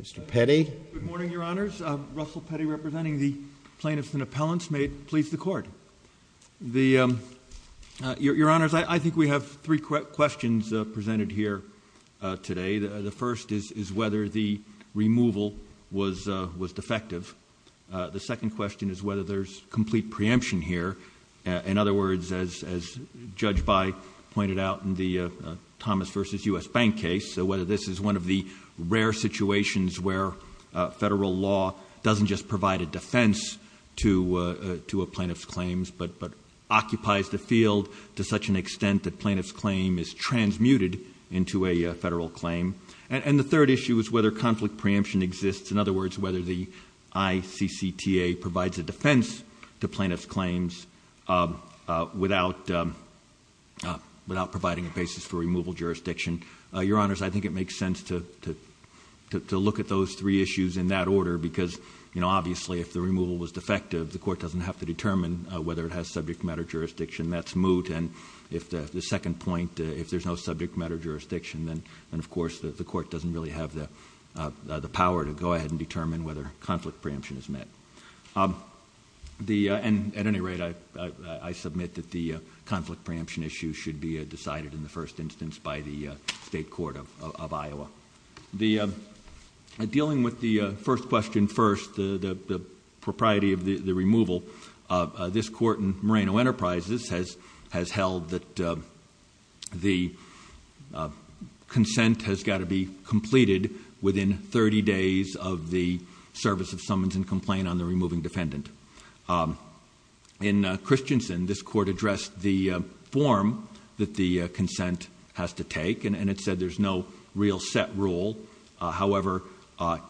Mr. Petty. Good morning, Your Honors. Russell Petty representing the plaintiffs and appellants. May it please the Court. Your Honors, I think we have three questions presented here today. The first is whether the removal was defective. The second question is whether there's complete preemption here. In other words, as Judge By pointed out in the Thomas v. U.S. Bank case, whether this is one of the rare situations where federal law doesn't just provide a defense to a plaintiff's claims, but occupies the field to such an extent that plaintiff's claim is transmuted into a federal claim. And the third issue is whether conflict preemption exists. In other words, whether the ICCTA provides a defense to plaintiff's claims without providing a basis for removal jurisdiction. Your Honors, I think it makes sense to look at those three issues in that order, because obviously if the removal was defective, the court doesn't have to determine whether it has subject matter jurisdiction. That's moot. And the second point, if there's no subject matter jurisdiction, then of course the court doesn't really have the power to go ahead and determine whether conflict preemption is met. At any rate, I submit that the conflict preemption issue should be decided in the first instance by the state court of Iowa. Dealing with the first question first, the propriety of the removal, this court in Moreno Enterprises has held that the In Christensen, this court addressed the form that the consent has to take, and it said there's no real set rule. However,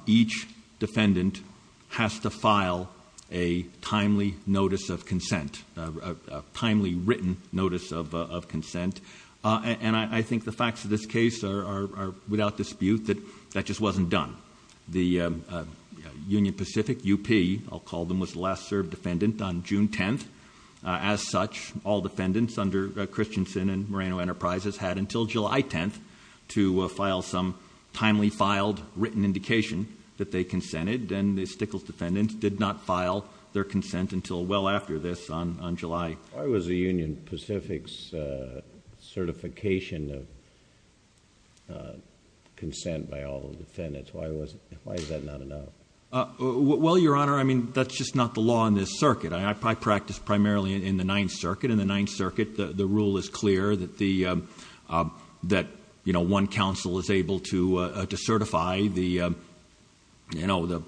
each defendant has to file a timely notice of consent, a timely written notice of consent. And I think the facts of this case are without dispute that that just wasn't done. The Union Pacific UP, I'll call them, was the last served defendant on June 10th. As such, all defendants under Christensen and Moreno Enterprises had until July 10th to file some timely filed written indication that they consented, and the Stickles defendants did not file their consent until well after this on July. Why was the Union Pacific's certification of consent by all the defendants? Why is that not enough? Well, Your Honor, I mean, that's just not the law in this circuit. I practice primarily in the Ninth Circuit. In the Ninth Circuit, the rule is clear that one counsel is able to certify the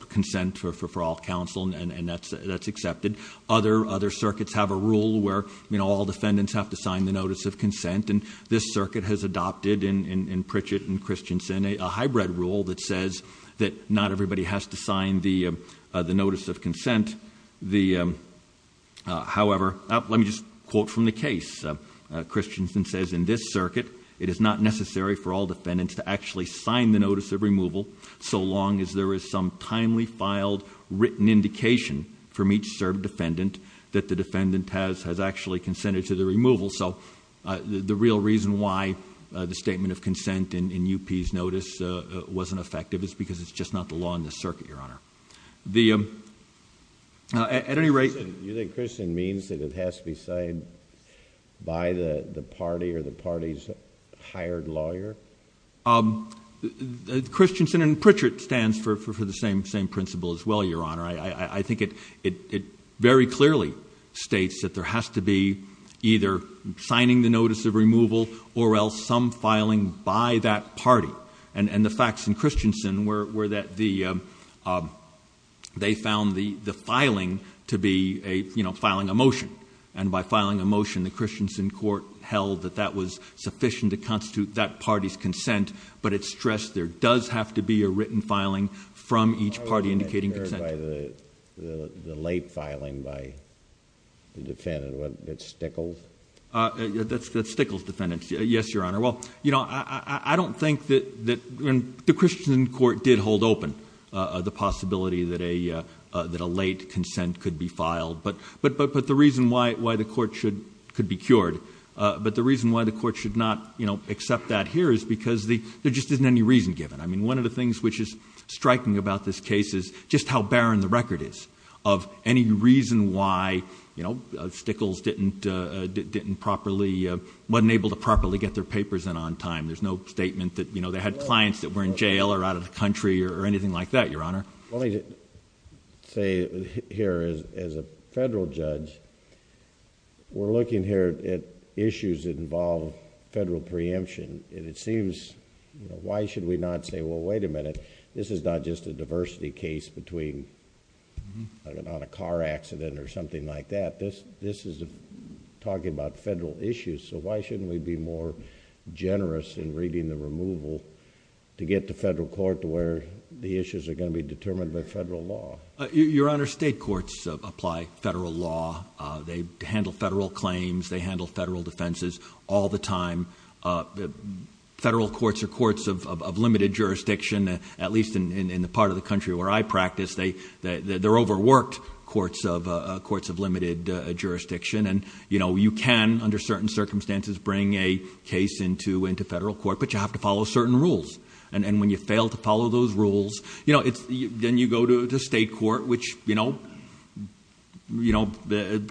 consent for all counsel, and that's accepted. Other circuits have a rule where all defendants have to sign the notice of consent, and this circuit has adopted in Pritchett and Christensen a hybrid rule that says that not everybody has to sign the notice of consent. However, let me just quote from the case. Christensen says, in this circuit, it is not necessary for all defendants to actually sign the notice of removal so long as there is some timely filed written indication from each served defendant that the defendant has actually consented to the removal. So the real reason why the statement of consent in UP's notice wasn't effective is because it's just not the law in this circuit, Your Honor. At any rate... You think Christensen means that it has to be signed by the party or the party's hired lawyer? Christensen and Pritchett stands for the same principle as well, Your Honor. I think it very clearly states that there has to be either signing the notice of removal or else some filing by that party. And the facts in Christensen were that they found the filing to be, you know, filing a motion. And by filing a motion, the Christensen court held that that was sufficient to constitute that party's consent. But it stressed there does have to be a written filing from each party indicating consent. The late filing by the defendant. Was it Stickels? That's Stickels' defendant. Yes, Your Honor. Well, you know, I don't think that... The Christensen court did hold open the possibility that a late consent could be filed. But the reason why the court should... could be cured... But the reason why the court should not, you know, accept that here is because there just isn't any reason given. I mean, one of the things which is striking about this case is just how barren the record is of any reason why, you know, Stickels didn't properly... wasn't able to properly get their papers in on time. There's no statement that, you know, they had clients that were in jail or out of the country or anything like that, Your Honor. Let me say here as a federal judge, we're looking here at issues that involve federal preemption. And it seems, you know, why should we not say, well, wait a minute, this is not just a diversity case between... on a car accident or something like that. This is talking about federal issues. So, why shouldn't we be more generous in reading the removal to get the federal court to where the issues are going to be determined by federal law? Your Honor, state courts apply federal law. They handle federal claims. They handle federal defenses all the time. Federal courts are courts of limited jurisdiction, at least in the part of the country where I practice. They're overworked courts of limited jurisdiction. And, you know, you can, under certain circumstances, bring a case into federal court. But you have to follow certain rules. And when you fail to follow those rules, you know, then you go to the state court, which, you know... you know,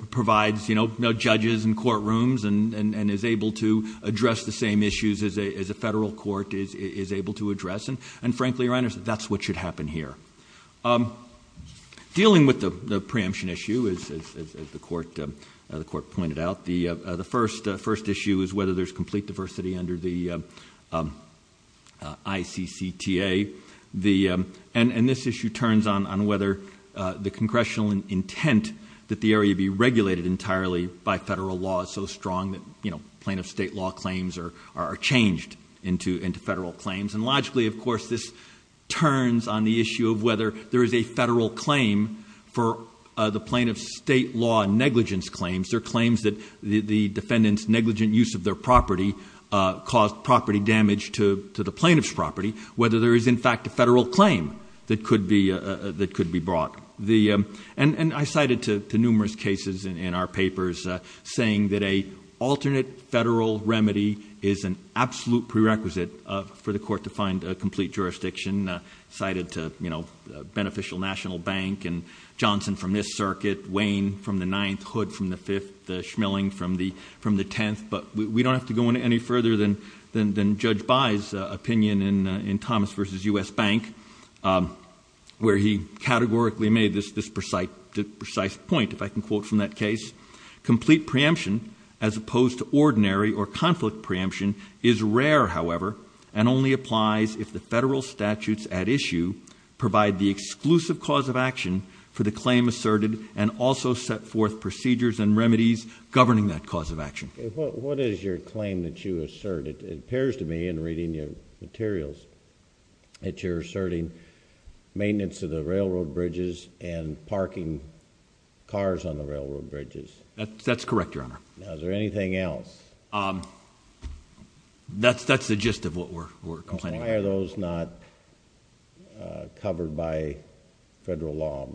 provides, you know, judges and courtrooms and is able to address the same issues as a federal court is able to address. And frankly, Your Honor, that's what should happen here. Dealing with the preemption issue, as the court pointed out. The first issue is whether there's complete diversity under the ICCTA. And this issue turns on whether the congressional intent that the area be regulated entirely by federal law is so strong that, you know... plaintiff state law claims are changed into federal claims. And logically, of course, this turns on the issue of whether there is a federal claim for the plaintiff state law negligence claims. There are claims that the defendant's negligent use of their property caused property damage to the plaintiff's property. Whether there is, in fact, a federal claim that could be brought. And I cited to numerous cases in our papers, saying that an alternate federal remedy is an absolute prerequisite for the court to find a complete jurisdiction. Cited to, you know, Beneficial National Bank and Johnson from this circuit, Wayne from the Ninth, Hood from the Fifth, Schmilling from the Tenth. But, we don't have to go any further than Judge By's opinion in Thomas v. U.S. Bank, where he categorically made this precise point, if I can quote from that case. Complete preemption, as opposed to ordinary or conflict preemption, is rare, however, and only applies if the federal statutes at issue... provide the exclusive cause of action for the claim asserted and also set forth procedures and remedies governing that cause of action. What is your claim that you assert? It appears to me, in reading your materials, that you're asserting maintenance of the railroad bridges and parking cars on the railroad bridges. That's correct, Your Honor. Now, is there anything else? That's the gist of what we're complaining about. Why are those not covered by federal law,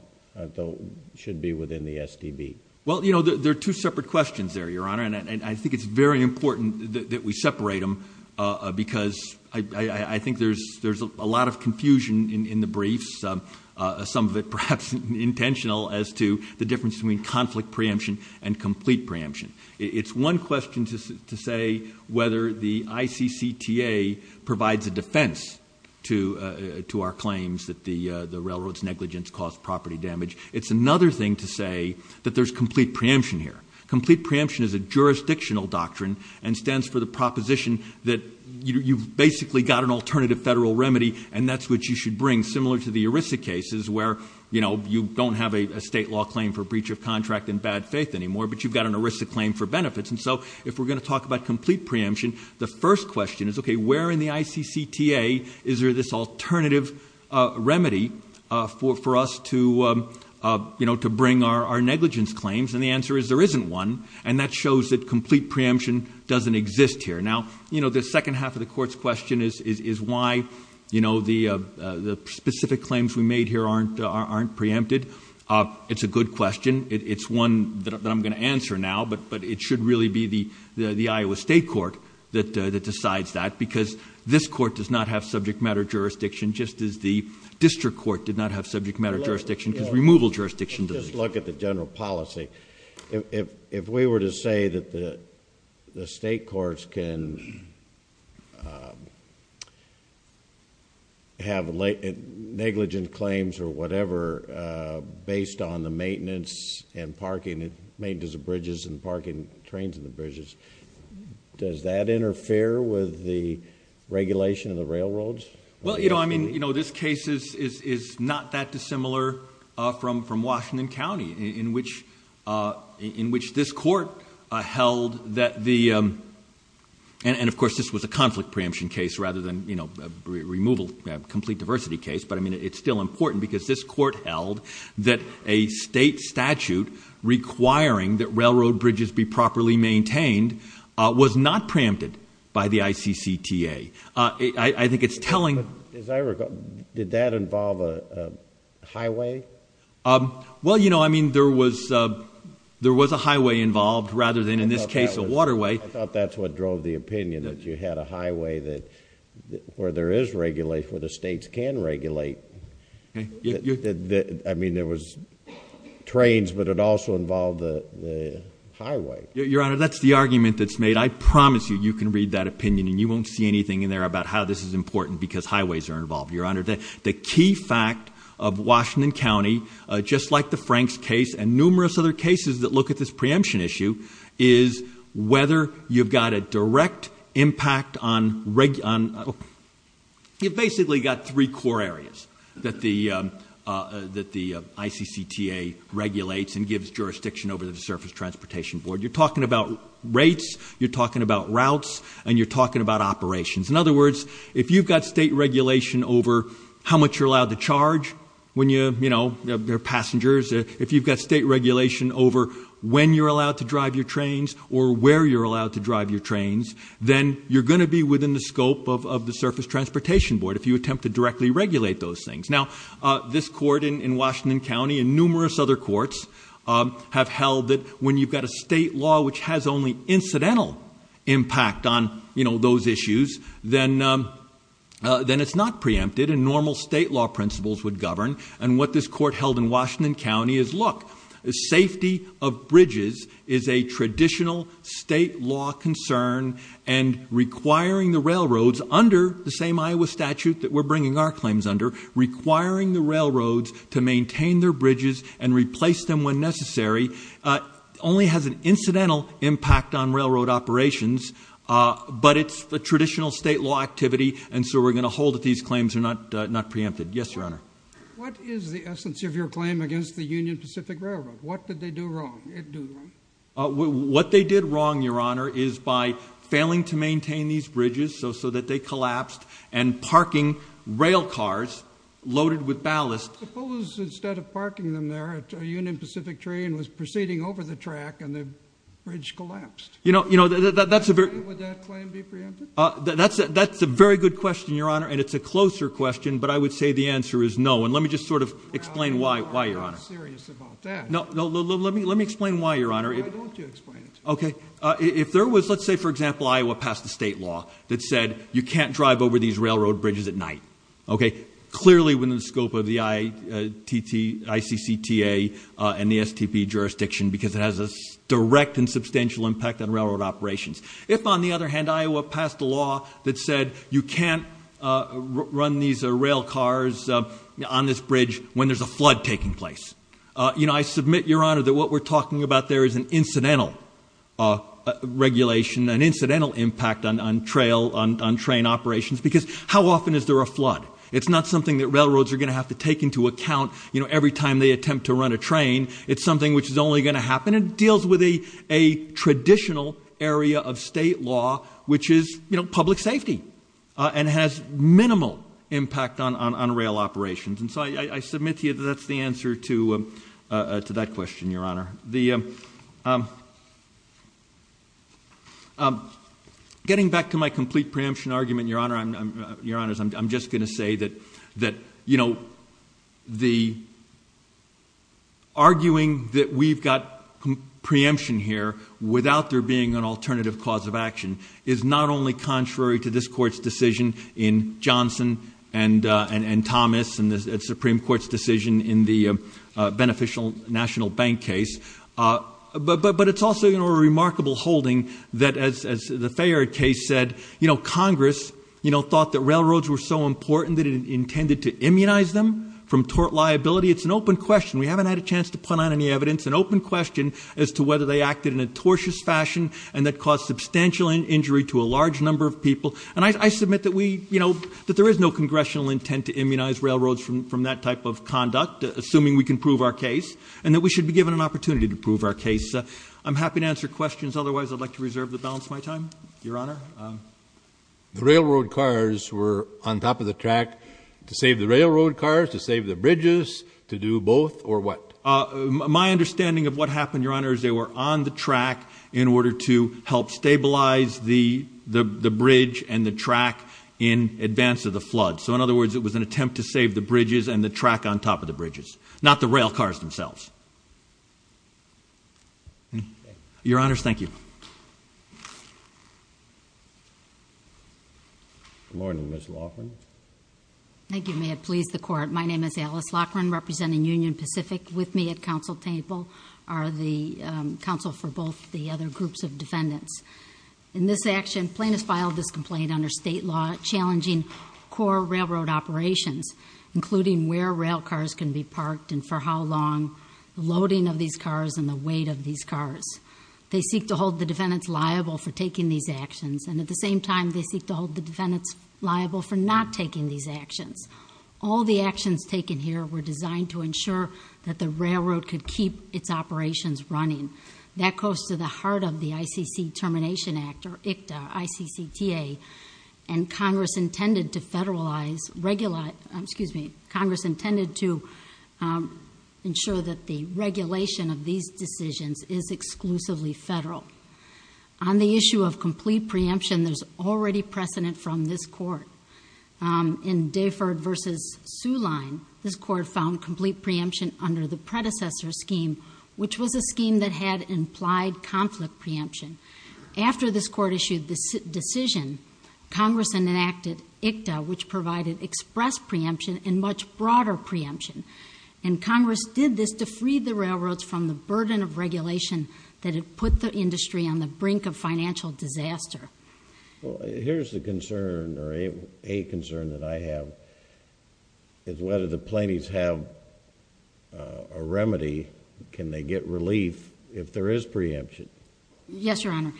though should be within the STB? Well, you know, there are two separate questions there, Your Honor. And, I think it's very important that we separate them because I think there's a lot of confusion in the briefs. Some of it, perhaps, intentional as to the difference between conflict preemption and complete preemption. It's one question to say whether the ICCTA provides a defense to our claims that the railroad's negligence caused property damage. It's another thing to say that there's complete preemption here. Complete preemption is a jurisdictional doctrine and stands for the proposition that you've basically got an alternative federal remedy, and that's what you should bring, similar to the ERISA cases where, you know, you don't have a state law claim for breach of contract in bad faith anymore, but you've got an ERISA claim for benefits. And so, if we're going to talk about complete preemption, the first question is, okay, where in the ICCTA is there this alternative remedy for us to, you know, to bring our negligence claims? And the answer is there isn't one, and that shows that complete preemption doesn't exist here. Now, you know, the second half of the court's question is why, you know, the specific claims we made here aren't preempted. It's a good question. It's one that I'm going to answer now, but it should really be the Iowa State Court that decides that, because this court does not have subject matter jurisdiction, just as the district court did not have subject matter jurisdiction, because removal jurisdiction does. Let's look at the general policy. If we were to say that the state courts can have negligence claims or whatever based on the maintenance and parking, maintenance of bridges and parking trains in the bridges, does that interfere with the regulation of the railroads? Well, you know, I mean, you know, this case is not that dissimilar from Washington County, in which this court held that the, and of course this was a conflict preemption case rather than, you know, a removal, a complete diversity case, but, I mean, it's still important because this court held that a state statute requiring that railroad bridges be properly maintained was not preempted by the ICCTA. I think it's telling. As I recall, did that involve a highway? Well, you know, I mean, there was a highway involved rather than, in this case, a waterway. I thought that's what drove the opinion, that you had a highway where there is regulation, where the states can regulate. I mean, there was trains, but it also involved the highway. Your Honor, that's the argument that's made. I promise you, you can read that opinion and you won't see anything in there about how this is important because highways are involved. Your Honor, the key fact of Washington County, just like the Franks case and numerous other cases that look at this preemption issue, is whether you've got a direct impact on, you've basically got three core areas that the ICCTA regulates and gives jurisdiction over to the Surface Transportation Board. You're talking about rates, you're talking about routes, and you're talking about operations. In other words, if you've got state regulation over how much you're allowed to charge when you're passengers, if you've got state regulation over when you're allowed to drive your trains or where you're allowed to drive your trains, then you're going to be within the scope of the Surface Transportation Board if you attempt to directly regulate those things. Now, this court in Washington County and numerous other courts have held that when you've got a state law which has only incidental impact on those issues, then it's not preempted and normal state law principles would govern. And what this court held in Washington County is, look, the safety of bridges is a traditional state law concern and requiring the railroads under the same Iowa statute that we're bringing our claims under, requiring the railroads to maintain their bridges and replace them when necessary, only has an incidental impact on railroad operations, but it's a traditional state law activity, and so we're going to hold that these claims are not preempted. Yes, Your Honor. What is the essence of your claim against the Union Pacific Railroad? What did they do wrong? What they did wrong, Your Honor, is by failing to maintain these bridges so that they collapsed and parking railcars loaded with ballast. Suppose instead of parking them there, a Union Pacific train was proceeding over the track and the bridge collapsed. Would that claim be preempted? That's a very good question, Your Honor, and it's a closer question, but I would say the answer is no. And let me just sort of explain why, Your Honor. I'm not serious about that. No, let me explain why, Your Honor. I'd love to explain it to you. Okay. If there was, let's say, for example, Iowa passed a state law that said you can't drive over these railroad bridges at night, okay, clearly within the scope of the ICCTA and the STP jurisdiction because it has a direct and substantial impact on railroad operations. If, on the other hand, Iowa passed a law that said you can't run these railcars on this bridge when there's a flood taking place, I submit, Your Honor, that what we're talking about there is an incidental regulation, an incidental impact on train operations because how often is there a flood? It's not something that railroads are going to have to take into account every time they attempt to run a train. It's something which is only going to happen. It deals with a traditional area of state law, which is public safety and has minimal impact on rail operations. And so I submit to you that that's the answer to that question, Your Honor. Getting back to my complete preemption argument, Your Honors, I'm just going to say that, you know, the arguing that we've got preemption here without there being an alternative cause of action is not only contrary to this court's decision in Johnson and Thomas and the Supreme Court's decision in the beneficial national bank case, but it's also a remarkable holding that, as the Fayard case said, you know, Congress thought that railroads were so important that it intended to immunize them from tort liability. It's an open question. We haven't had a chance to put on any evidence, an open question as to whether they acted in a tortious fashion and that caused substantial injury to a large number of people. And I submit that we, you know, that there is no congressional intent to immunize railroads from that type of conduct, assuming we can prove our case and that we should be given an opportunity to prove our case. I'm happy to answer questions. Otherwise, I'd like to reserve the balance of my time, Your Honor. The railroad cars were on top of the track to save the railroad cars, to save the bridges, to do both or what? My understanding of what happened, Your Honor, is they were on the track in order to help stabilize the bridge and the track in advance of the flood. So, in other words, it was an attempt to save the bridges and the track on top of the bridges, not the rail cars themselves. Your Honors, thank you. Good morning, Ms. Laughlin. Thank you. May it please the Court. My name is Alice Laughlin, representing Union Pacific. With me at counsel table are the counsel for both the other groups of defendants. In this action, plaintiffs filed this complaint under state law challenging core railroad operations, including where rail cars can be parked and for how long, the loading of these cars and the weight of these cars. They seek to hold the defendants liable for taking these actions. And at the same time, they seek to hold the defendants liable for not taking these actions. All the actions taken here were designed to ensure that the railroad could keep its operations running. That goes to the heart of the ICC Termination Act, or ICTA, I-C-C-T-A. And Congress intended to federalize, excuse me, Congress intended to ensure that the regulation of these decisions is exclusively federal. On the issue of complete preemption, there's already precedent from this Court. In Dayford v. Soo Line, this Court found complete preemption under the predecessor scheme, which was a scheme that had implied conflict preemption. After this Court issued this decision, Congress enacted ICTA, which provided express preemption and much broader preemption. And Congress did this to free the railroads from the burden of regulation that had put the industry on the brink of financial disaster. Well, here's the concern, or a concern that I have, is whether the plaintiffs have a remedy. Can they get relief if there is preemption? Yes, Your Honor.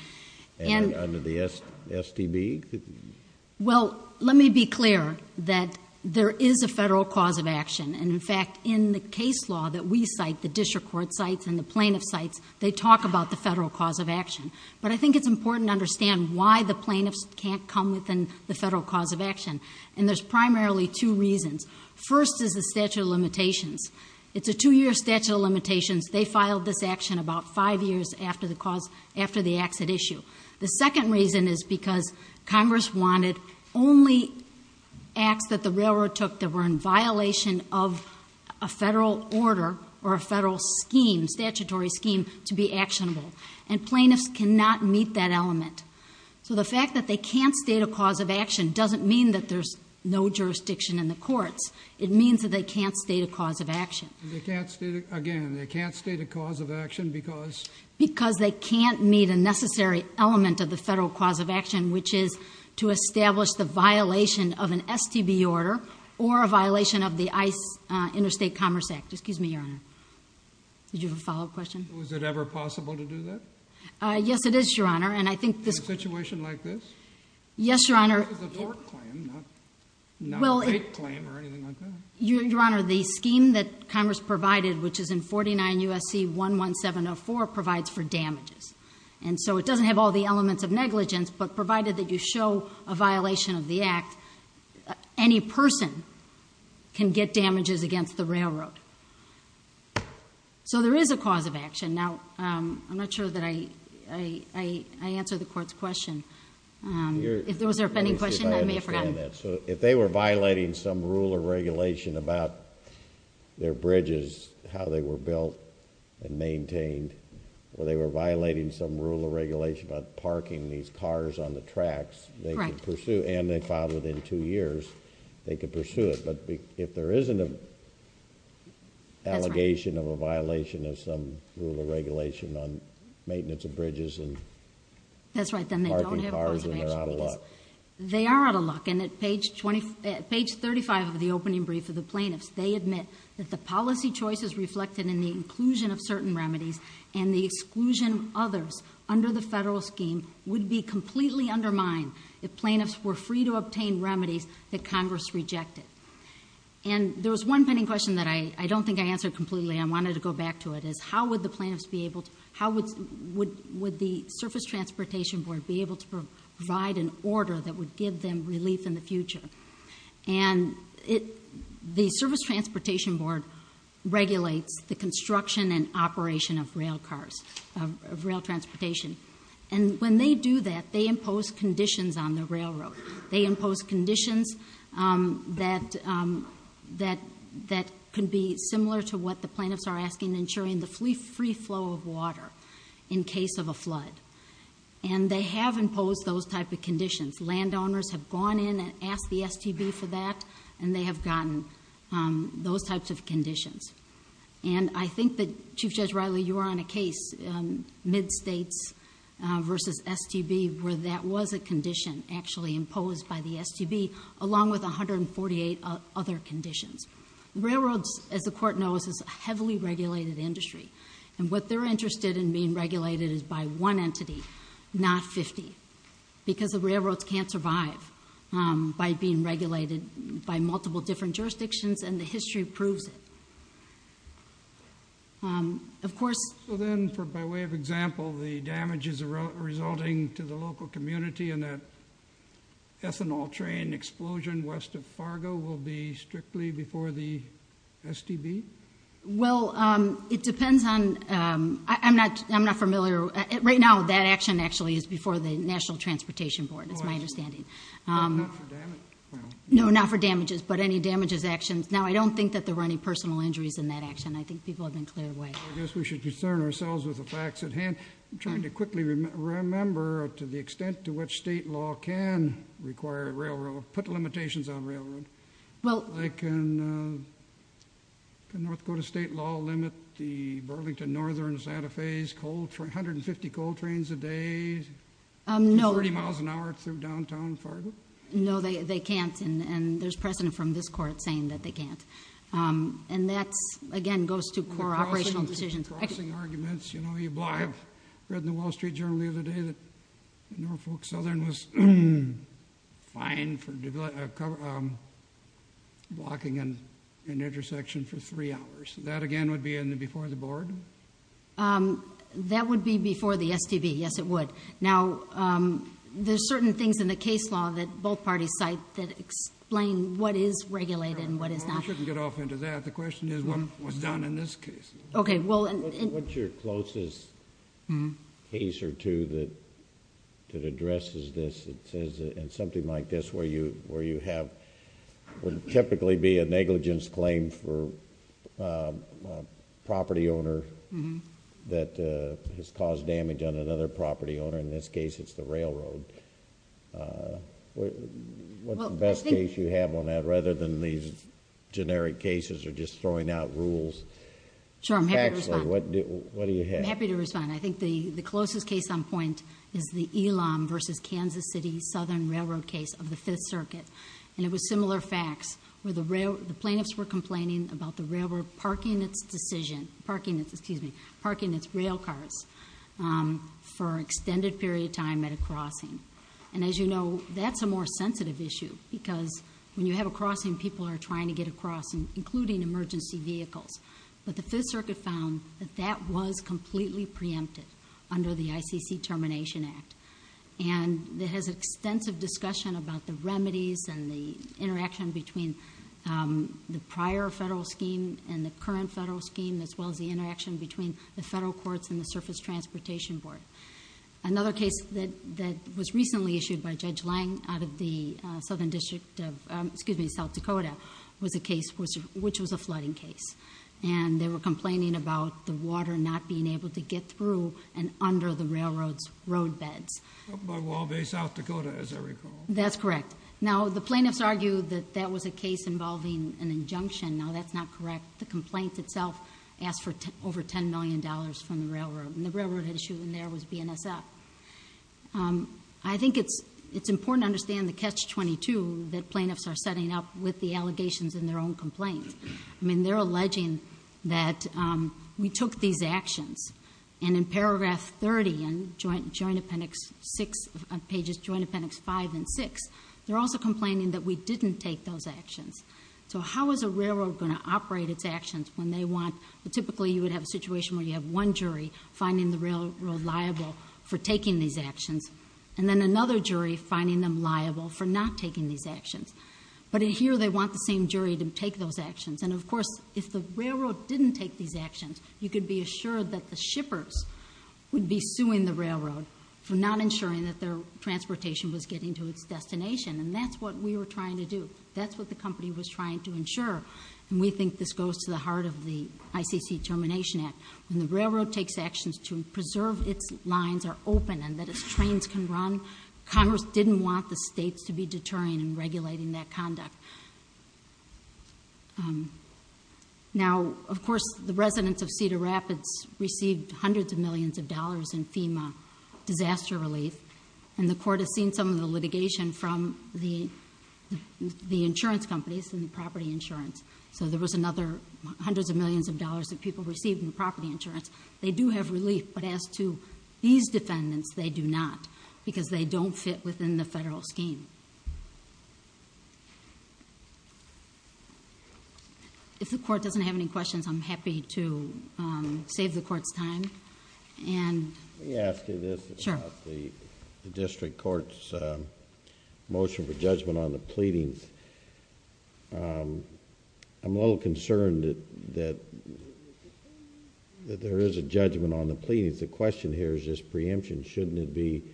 And under the STB? Well, let me be clear that there is a federal cause of action. And in fact, in the case law that we cite, the district court cites and the plaintiff cites, they talk about the federal cause of action. But I think it's important to understand why the plaintiffs can't come within the federal cause of action. And there's primarily two reasons. First is the statute of limitations. It's a two-year statute of limitations. They filed this action about five years after the acts at issue. The second reason is because Congress wanted only acts that the railroad took that were in violation of a federal order or a federal scheme, statutory scheme, to be actionable. And plaintiffs cannot meet that element. So the fact that they can't state a cause of action doesn't mean that there's no jurisdiction in the courts. It means that they can't state a cause of action. Again, they can't state a cause of action because? Because they can't meet a necessary element of the federal cause of action, which is to establish the violation of an STB order or a violation of the ICE Interstate Commerce Act. Excuse me, Your Honor. Did you have a follow-up question? Was it ever possible to do that? Yes, it is, Your Honor. In a situation like this? Yes, Your Honor. This is a court claim, not a state claim or anything like that. Your Honor, the scheme that Congress provided, which is in 49 U.S.C. 11704, provides for damages. And so it doesn't have all the elements of negligence, but provided that you show a violation of the act, any person can get damages against the railroad. So there is a cause of action. Now, I'm not sure that I answered the court's question. If there was an offending question, I may have forgotten. If they were violating some rule or regulation about their bridges, how they were built and maintained, or they were violating some rule or regulation about parking these cars on the tracks, and they filed it in two years, they could pursue it. But if there isn't an allegation of a violation of some rule or regulation on maintenance of bridges and parking cars, then they're out of luck. They are out of luck, and at page 35 of the opening brief of the plaintiffs, they admit that the policy choices reflected in the inclusion of certain remedies and the exclusion of others under the federal scheme would be completely undermined if plaintiffs were free to obtain remedies that Congress rejected. And there was one pending question that I don't think I answered completely. I wanted to go back to it, is how would the plaintiffs be able to – how would the Surface Transportation Board be able to provide an order that would give them relief in the future? And the Surface Transportation Board regulates the construction and operation of rail cars, of rail transportation. And when they do that, they impose conditions on the railroad. They impose conditions that could be similar to what the plaintiffs are asking, ensuring the free flow of water in case of a flood. And they have imposed those type of conditions. Landowners have gone in and asked the STB for that, and they have gotten those types of conditions. And I think that, Chief Judge Riley, you were on a case, mid-states versus STB, where that was a condition actually imposed by the STB, along with 148 other conditions. Railroads, as the Court knows, is a heavily regulated industry. And what they're interested in being regulated is by one entity, not 50, because the railroads can't survive by being regulated by multiple different jurisdictions, and the history proves it. Of course – So then, by way of example, the damages resulting to the local community and that ethanol train explosion west of Fargo will be strictly before the STB? Well, it depends on – I'm not familiar – Right now, that action actually is before the National Transportation Board, is my understanding. Not for damages? No, not for damages, but any damages actions. Now, I don't think that there were any personal injuries in that action. I think people have been cleared away. I guess we should concern ourselves with the facts at hand. I'm trying to quickly remember to the extent to which state law can require a railroad, put limitations on railroad. Can North Dakota state law limit the Burlington Northern Santa Fe's 150 coal trains a day? No. 30 miles an hour through downtown Fargo? No, they can't, and there's precedent from this Court saying that they can't. And that, again, goes to core operational decisions. Crossing arguments. I read in the Wall Street Journal the other day that Norfolk Southern was fined for blocking an intersection for three hours. That, again, would be before the board? That would be before the STB. Yes, it would. Now, there's certain things in the case law that both parties cite that explain what is regulated and what is not. Well, we shouldn't get off into that. The question is what was done in this case. Okay, well... What's your closest case or two that addresses this and says something like this where you have... would typically be a negligence claim for a property owner that has caused damage on another property owner. In this case, it's the railroad. What's the best case you have on that rather than these generic cases or just throwing out rules? Sure, I'm happy to respond. Actually, what do you have? I'm happy to respond. I think the closest case on point is the Elam versus Kansas City Southern Railroad case of the Fifth Circuit. And it was similar facts where the plaintiffs were complaining about the railroad parking its railcars for an extended period of time at a crossing. And as you know, that's a more sensitive issue because when you have a crossing, people are trying to get across, including emergency vehicles. But the Fifth Circuit found that that was completely preempted under the ICC Termination Act. And it has extensive discussion about the remedies and the interaction between the prior federal scheme and the current federal scheme, as well as the interaction between the federal courts and the Surface Transportation Board. Another case that was recently issued by Judge Lange out of the South Dakota was a case which was a flooding case. And they were complaining about the water not being able to get through and under the railroad's roadbeds. Up by Wall Bay, South Dakota, as I recall. That's correct. Now, the plaintiffs argued that that was a case involving an injunction. Now, that's not correct. The complaint itself asked for over $10 million from the railroad. And the railroad issue in there was BNSF. I think it's important to understand the Catch-22 that plaintiffs are setting up with the allegations in their own complaint. I mean, they're alleging that we took these actions. And in paragraph 30, and joint appendix 6, pages joint appendix 5 and 6, they're also complaining that we didn't take those actions. So how is a railroad going to operate its actions when they want? Typically, you would have a situation where you have one jury finding the railroad liable for taking these actions. And then another jury finding them liable for not taking these actions. But in here, they want the same jury to take those actions. And of course, if the railroad didn't take these actions, you could be assured that the shippers would be suing the railroad for not ensuring that their transportation was getting to its destination. And that's what we were trying to do. That's what the company was trying to ensure. And we think this goes to the heart of the ICC Termination Act. When the railroad takes actions to preserve its lines are open and that its trains can run, Congress didn't want the states to be deterring and regulating that conduct. Now, of course, the residents of Cedar Rapids received hundreds of millions of dollars in FEMA disaster relief. And the court has seen some of the litigation from the insurance companies and the property insurance. So there was another hundreds of millions of dollars that people received in the property insurance. They do have relief. But as to these defendants, they do not because they don't fit within the federal scheme. If the court doesn't have any questions, I'm happy to save the court's time. Let me ask you this about the district court's motion for judgment on the pleadings. I'm a little concerned that there is a judgment on the pleadings. The question here is this preemption. Shouldn't it be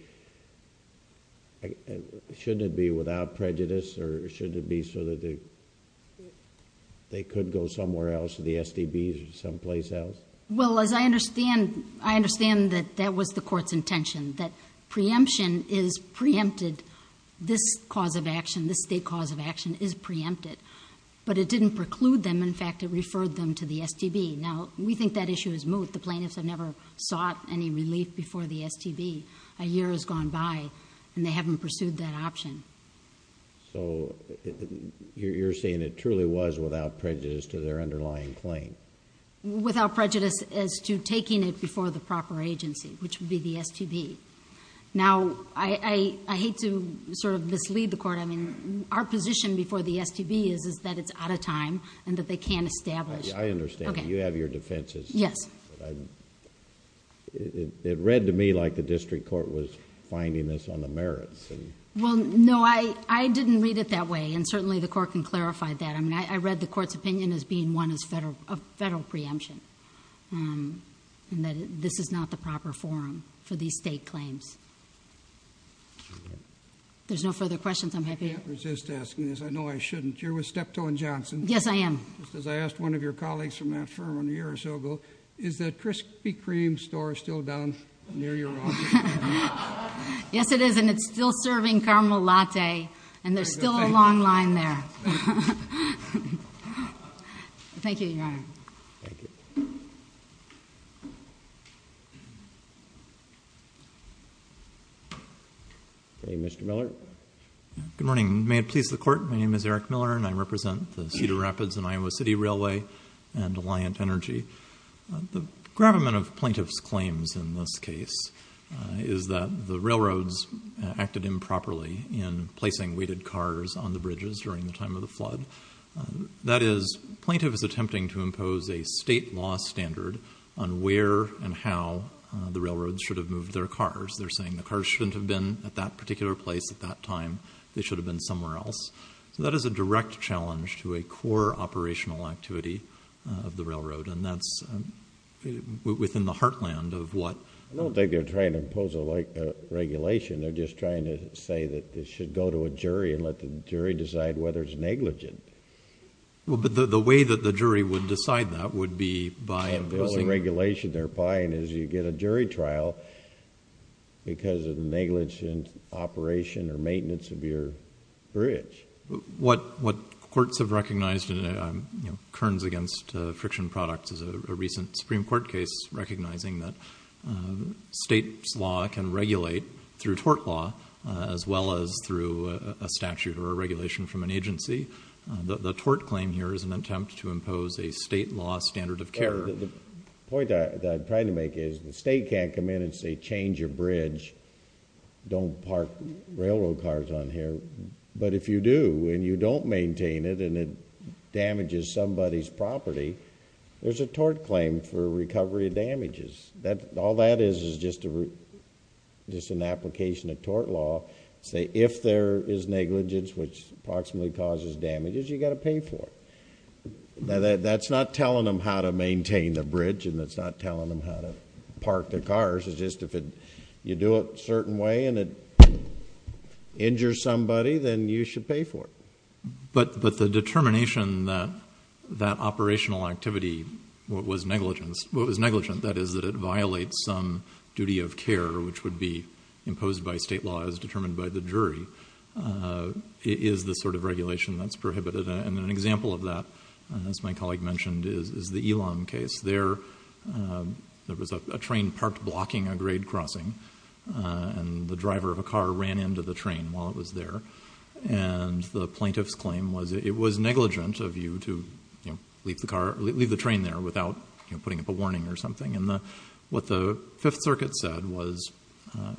without prejudice or shouldn't it be so that they could go somewhere else, to the SDBs or someplace else? Well, as I understand, I understand that that was the court's intention, that preemption is preempted. This cause of action, this state cause of action is preempted. But it didn't preclude them. In fact, it referred them to the SDB. Now, we think that issue is moot. The plaintiffs have never sought any relief before the SDB. A year has gone by and they haven't pursued that option. So you're saying it truly was without prejudice to their underlying claim? Without prejudice as to taking it before the proper agency, which would be the SDB. Now, I hate to sort of mislead the court. I mean, our position before the SDB is that it's out of time and that they can't establish... I understand. Okay. You have your defenses. Yes. It read to me like the district court was finding this on the merits. Well, no. I didn't read it that way and certainly the court can clarify that. I mean, I read the court's opinion as being one of federal preemption. And that this is not the proper forum for these state claims. There's no further questions. I'm happy to... I can't resist asking this. I know I shouldn't. You're with Steptoe & Johnson. Yes, I am. Just as I asked one of your colleagues from that firm a year or so ago, is that Krispy Kreme store still down near your office? Yes, it is. And it's still serving caramel latte. And there's still a long line there. Thank you, Your Honor. Thank you. Okay, Mr. Miller. Good morning. May it please the Court, my name is Eric Miller and I represent the Cedar Rapids and Iowa City Railway and Alliant Energy. The gravamen of plaintiff's claims in this case is that the railroads acted improperly in placing weighted cars on the bridges during the time of the flood. That is, plaintiff is attempting to impose a state law standard on where and how the railroads should have moved their cars. They're saying the cars shouldn't have been at that particular place at that time. They should have been somewhere else. So that is a direct challenge to a core operational activity of the railroad. And that's within the heartland of what... They're not trying to impose a regulation. They're just trying to say that it should go to a jury and let the jury decide whether it's negligent. Well, but the way that the jury would decide that would be by imposing... The only regulation they're buying is you get a jury trial because of the negligence in operation or maintenance of your bridge. What courts have recognized, you know, Kearns against friction products is a recent Supreme Court case recognizing that states' law can regulate through tort law as well as through a statute or a regulation from an agency. The tort claim here is an attempt to impose a state law standard of care. The point that I'm trying to make is the state can't come in and say, change your bridge, don't park railroad cars on here. But if you do and you don't maintain it and it damages somebody's property, there's a tort claim for recovery of damages. All that is is just an application of tort law to say if there is negligence which approximately causes damages, you've got to pay for it. That's not telling them how to maintain the bridge and that's not telling them how to park their cars. It's just if you do it a certain way and it injures somebody, then you should pay for it. But the determination that that operational activity was negligent, that is that it violates some duty of care which would be imposed by state law as determined by the jury, is the sort of regulation that's prohibited. An example of that, as my colleague mentioned, is the Elon case. There was a train parked blocking a grade crossing and the driver of a car ran into the train while it was there and the plaintiff's claim was it was negligent of you to leave the train there without putting up a warning or something. What the Fifth Circuit said was to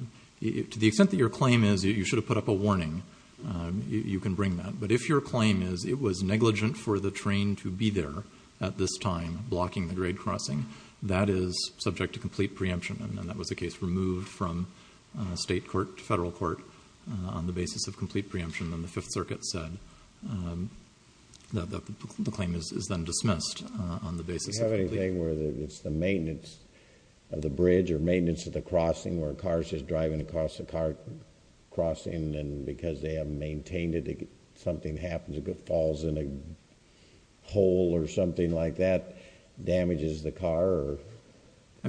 the extent that your claim is you should have put up a warning, you can bring that. But if your claim is it was negligent for the train to be there at this time blocking the grade crossing, that is subject to complete preemption. That was a case removed from state court to federal court on the basis of complete preemption. Then the Fifth Circuit said that the claim is then dismissed on the basis of... Do you have anything where it's the maintenance of the bridge or maintenance of the crossing where a car is just driving across the car crossing and because they haven't maintained it, something happens, it falls in a hole or something like that, damages the car or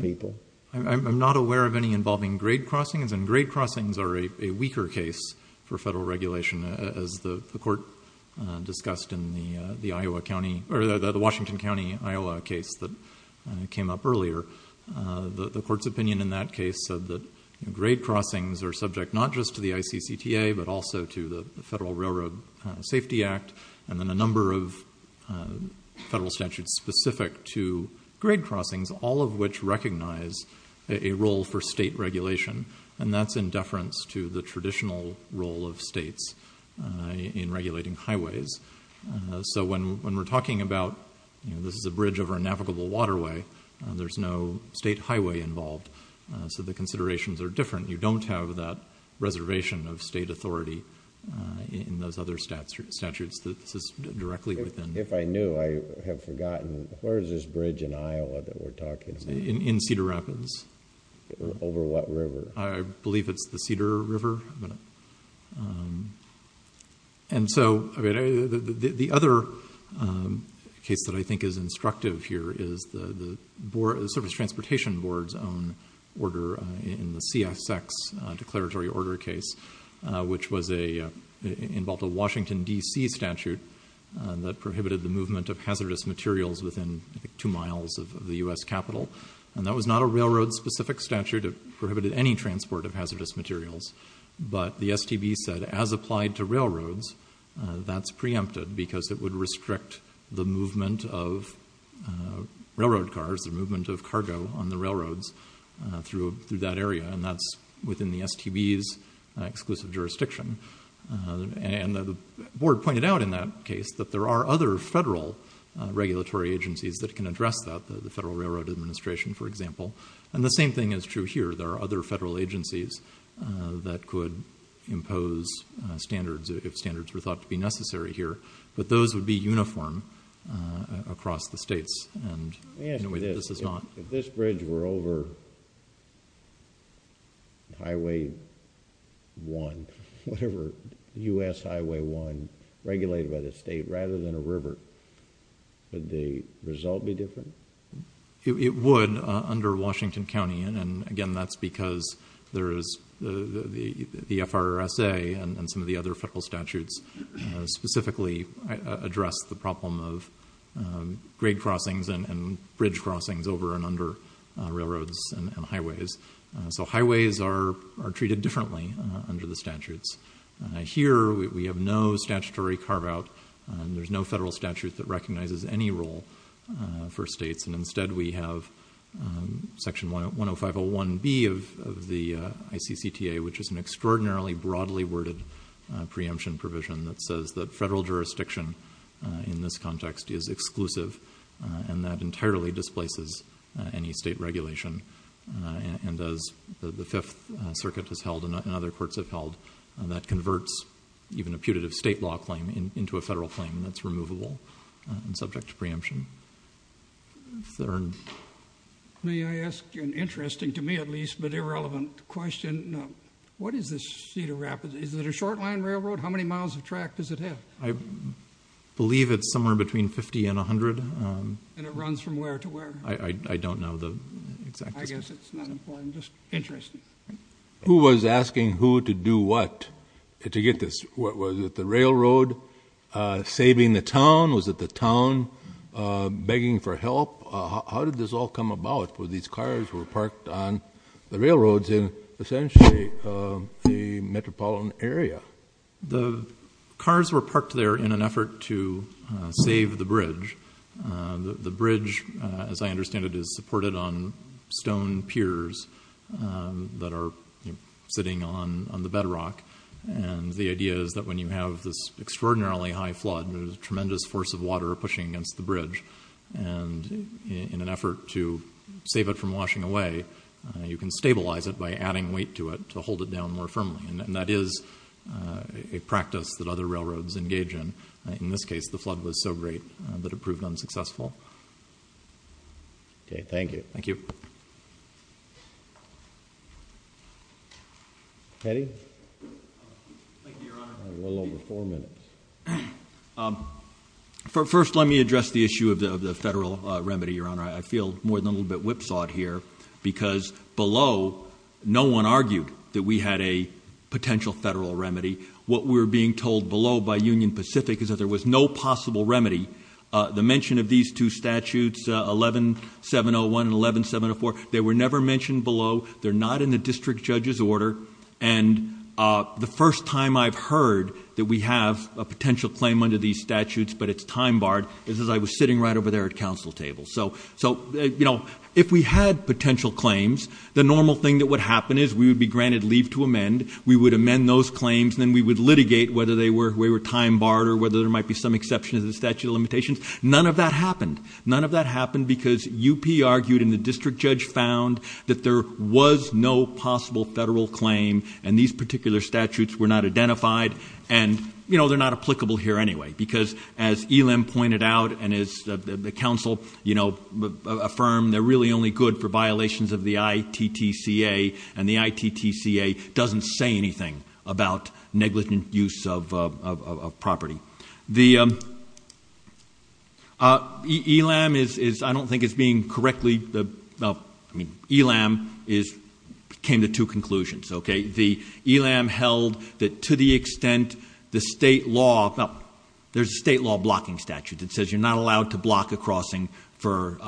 people? I'm not aware of any involving grade crossings and grade crossings are a weaker case for federal regulation. As the court discussed in the Washington County, Iowa case that came up earlier, the court's opinion in that case said that grade crossings are subject not just to the ICCTA but also to the Federal Railroad Safety Act and then a number of federal statutes specific to grade crossings, all of which recognize a role for state regulation and that's in deference to the traditional role of states in regulating highways. When we're talking about this is a bridge over a navigable waterway, there's no state highway involved, so the considerations are different. You don't have that reservation of state authority in those other statutes. This is directly within... In Cedar Rapids. Over what river? I believe it's the Cedar River. And so the other case that I think is instructive here is the Service Transportation Board's own order in the CSX declaratory order case, which involved a Washington, D.C. statute that prohibited the movement of hazardous materials within two miles of the U.S. Capitol. And that was not a railroad-specific statute. It prohibited any transport of hazardous materials. But the STB said as applied to railroads, that's preempted because it would restrict the movement of railroad cars, the movement of cargo on the railroads through that area, and that's within the STB's exclusive jurisdiction. And the board pointed out in that case that there are other federal regulatory agencies that can address that, the Federal Railroad Administration, for example. And the same thing is true here. There are other federal agencies that could impose standards if standards were thought to be necessary here, but those would be uniform across the states, and this is not. If this bridge were over Highway 1, whatever, U.S. Highway 1, regulated by the state, rather than a river, would the result be different? It would under Washington County. And again, that's because there is the FRSA and some of the other federal statutes specifically address the problem of grade crossings and bridge crossings over and under railroads and highways. So highways are treated differently under the statutes. Here we have no statutory carve-out. There's no federal statute that recognizes any role for states, and instead we have Section 10501B of the ICCTA, which is an extraordinarily broadly worded preemption provision that says that federal jurisdiction in this context is exclusive and that entirely displaces any state regulation. And as the Fifth Circuit has held and other courts have held, that converts even a putative state law claim into a federal claim that's removable and subject to preemption. Thurn. May I ask an interesting, to me at least, but irrelevant question? What is the Cedar Rapids? Is it a short-line railroad? How many miles of track does it have? I believe it's somewhere between 50 and 100. And it runs from where to where? I don't know the exact statistics. I guess it's not important, just interesting. Who was asking who to do what to get this? Was it the railroad saving the town? Was it the town begging for help? How did this all come about? These cars were parked on the railroads in essentially a metropolitan area. The cars were parked there in an effort to save the bridge. The bridge, as I understand it, is supported on stone piers that are sitting on the bedrock. And the idea is that when you have this extraordinarily high flood, there's a tremendous force of water pushing against the bridge. And in an effort to save it from washing away, you can stabilize it by adding weight to it to hold it down more firmly. And that is a practice that other railroads engage in. In this case, the flood was so great that it proved unsuccessful. Okay, thank you. Thank you. Eddie? Thank you, Your Honor. We're a little over four minutes. First, let me address the issue of the federal remedy, Your Honor. I feel more than a little bit whipsawed here because below, no one argued that we had a potential federal remedy. What we're being told below by Union Pacific is that there was no possible remedy. The mention of these two statutes, 11701 and 11704, they were never mentioned below. They're not in the district judge's order. And the first time I've heard that we have a potential claim under these statutes, but it's time-barred, is as I was sitting right over there at council tables. So, you know, if we had potential claims, the normal thing that would happen is we would be granted leave to amend, we would amend those claims, and then we would litigate whether they were time-barred or whether there might be some exception to the statute of limitations. None of that happened. None of that happened because UP argued and the district judge found that there was no possible federal claim and these particular statutes were not identified. And, you know, they're not applicable here anyway because as ELAM pointed out and as the council, you know, affirmed, they're really only good for violations of the ITTCA and the ITTCA doesn't say anything about negligent use of property. The ELAM is, I don't think it's being correctly... I mean, ELAM came to two conclusions, okay? The ELAM held that to the extent the state law... Well, there's a state law blocking statute that says you're not allowed to block a crossing for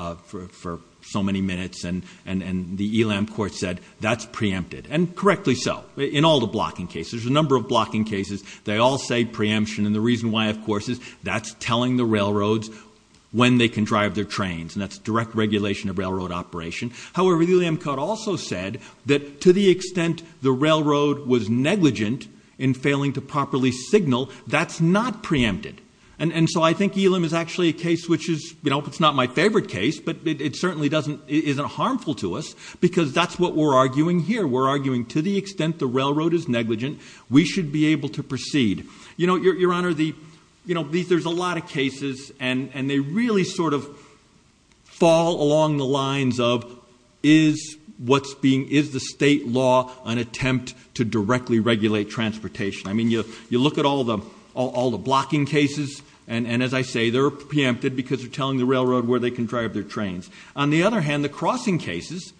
so many minutes and the ELAM court said that's preempted. And correctly so in all the blocking cases. There's a number of blocking cases. They all say preemption and the reason why, of course, is that's telling the railroads when they can drive their trains and that's direct regulation of railroad operation. However, the ELAM court also said that to the extent the railroad was negligent in failing to properly signal, that's not preempted. And so I think ELAM is actually a case which is, you know, it's not my favourite case but it certainly isn't harmful to us because that's what we're arguing here. We're arguing to the extent the railroad is negligent, we should be able to proceed. You know, Your Honour, there's a lot of cases and they really sort of fall along the lines of is the state law an attempt to directly regulate transportation? I mean, you look at all the blocking cases and, as I say, they're preempted because they're telling the railroad where they can drive their trains. On the other hand, the crossing cases,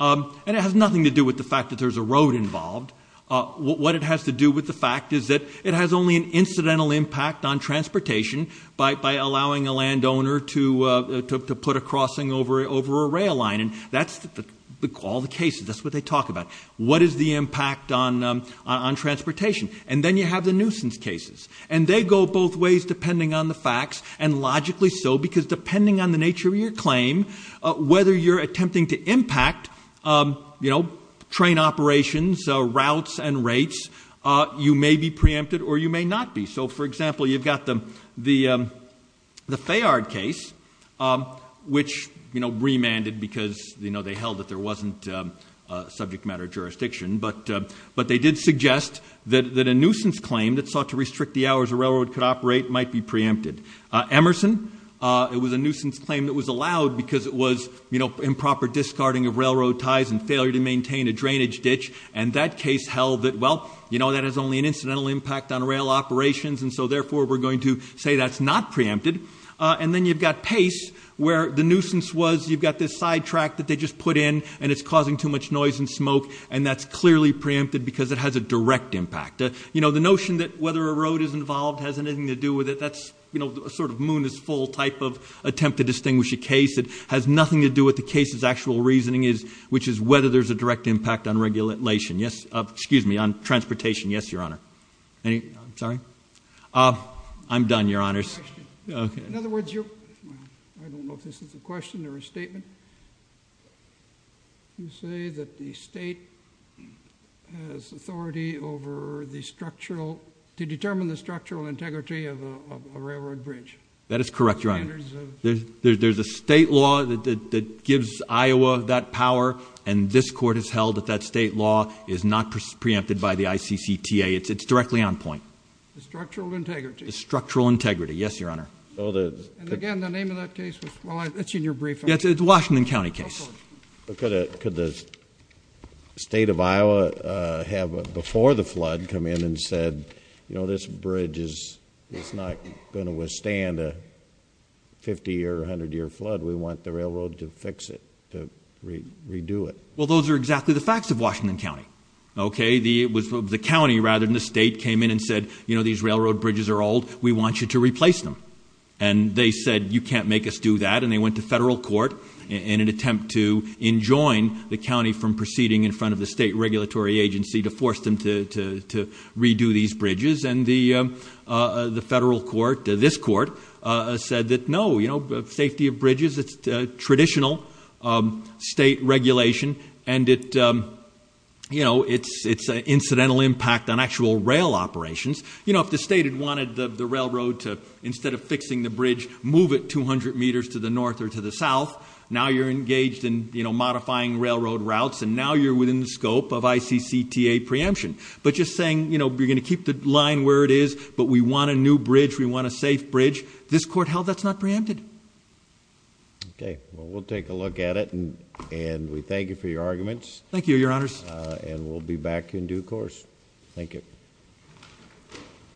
and it has nothing to do with the fact that there's a road involved, what it has to do with the fact is that it has only an incidental impact on transportation by allowing a landowner to put a crossing over a rail line and that's all the cases, that's what they talk about. What is the impact on transportation? And then you have the nuisance cases and they go both ways depending on the facts and logically so because depending on the nature of your claim, whether you're attempting to impact, you know, train operations, routes and rates, you may be preempted or you may not be. So, for example, you've got the Fayard case, which, you know, remanded because, you know, they held that there wasn't subject matter jurisdiction, but they did suggest that a nuisance claim that sought to restrict the hours a railroad could operate might be preempted. Emerson, it was a nuisance claim that was allowed because it was improper discarding of railroad ties and failure to maintain a drainage ditch and that case held that, well, you know, that has only an incidental impact on rail operations and so therefore we're going to say that's not preempted. And then you've got Pace where the nuisance was you've got this side track that they just put in and it's causing too much noise and smoke and that's clearly preempted because it has a direct impact. You know, the notion that whether a road is involved has anything to do with it, that's, you know, a sort of moon is full type of attempt to distinguish a case. It has nothing to do with the case's actual reasoning which is whether there's a direct impact on regulation. Yes, excuse me, on transportation. Yes, Your Honor. Sorry? I'm done, Your Honors. In other words, you're... I don't know if this is a question or a statement. You say that the state has authority over the structural... to determine the structural integrity of a railroad bridge. That is correct, Your Honor. There's a state law that gives Iowa that power and this court has held that that state law is not preempted by the ICCTA. It's directly on point. The structural integrity. The structural integrity, yes, Your Honor. And again, the name of that case was... Well, it's in your brief. It's a Washington County case. Could the state of Iowa have, before the flood, come in and said, you know, this bridge is not going to withstand a 50-year or 100-year flood? We want the railroad to fix it, to redo it. Well, those are exactly the facts of Washington County, okay? The county, rather than the state, came in and said, you know, these railroad bridges are old. We want you to replace them. And they said, you can't make us do that, and they went to federal court in an attempt to enjoin the county from proceeding in front of the state regulatory agency to force them to redo these bridges. And the federal court, this court, said that, no, you know, safety of bridges, it's traditional state regulation, and it's an incidental impact on actual rail operations. You know, if the state had wanted the railroad to, instead of fixing the bridge, move it 200 meters to the north or to the south, now you're engaged in modifying railroad routes, and now you're within the scope of ICCTA preemption. But just saying, you know, you're going to keep the line where it is, but we want a new bridge, we want a safe bridge, this court held that's not preempted. Okay. Well, we'll take a look at it, and we thank you for your arguments. Thank you, Your Honors. And we'll be back in due course. Thank you.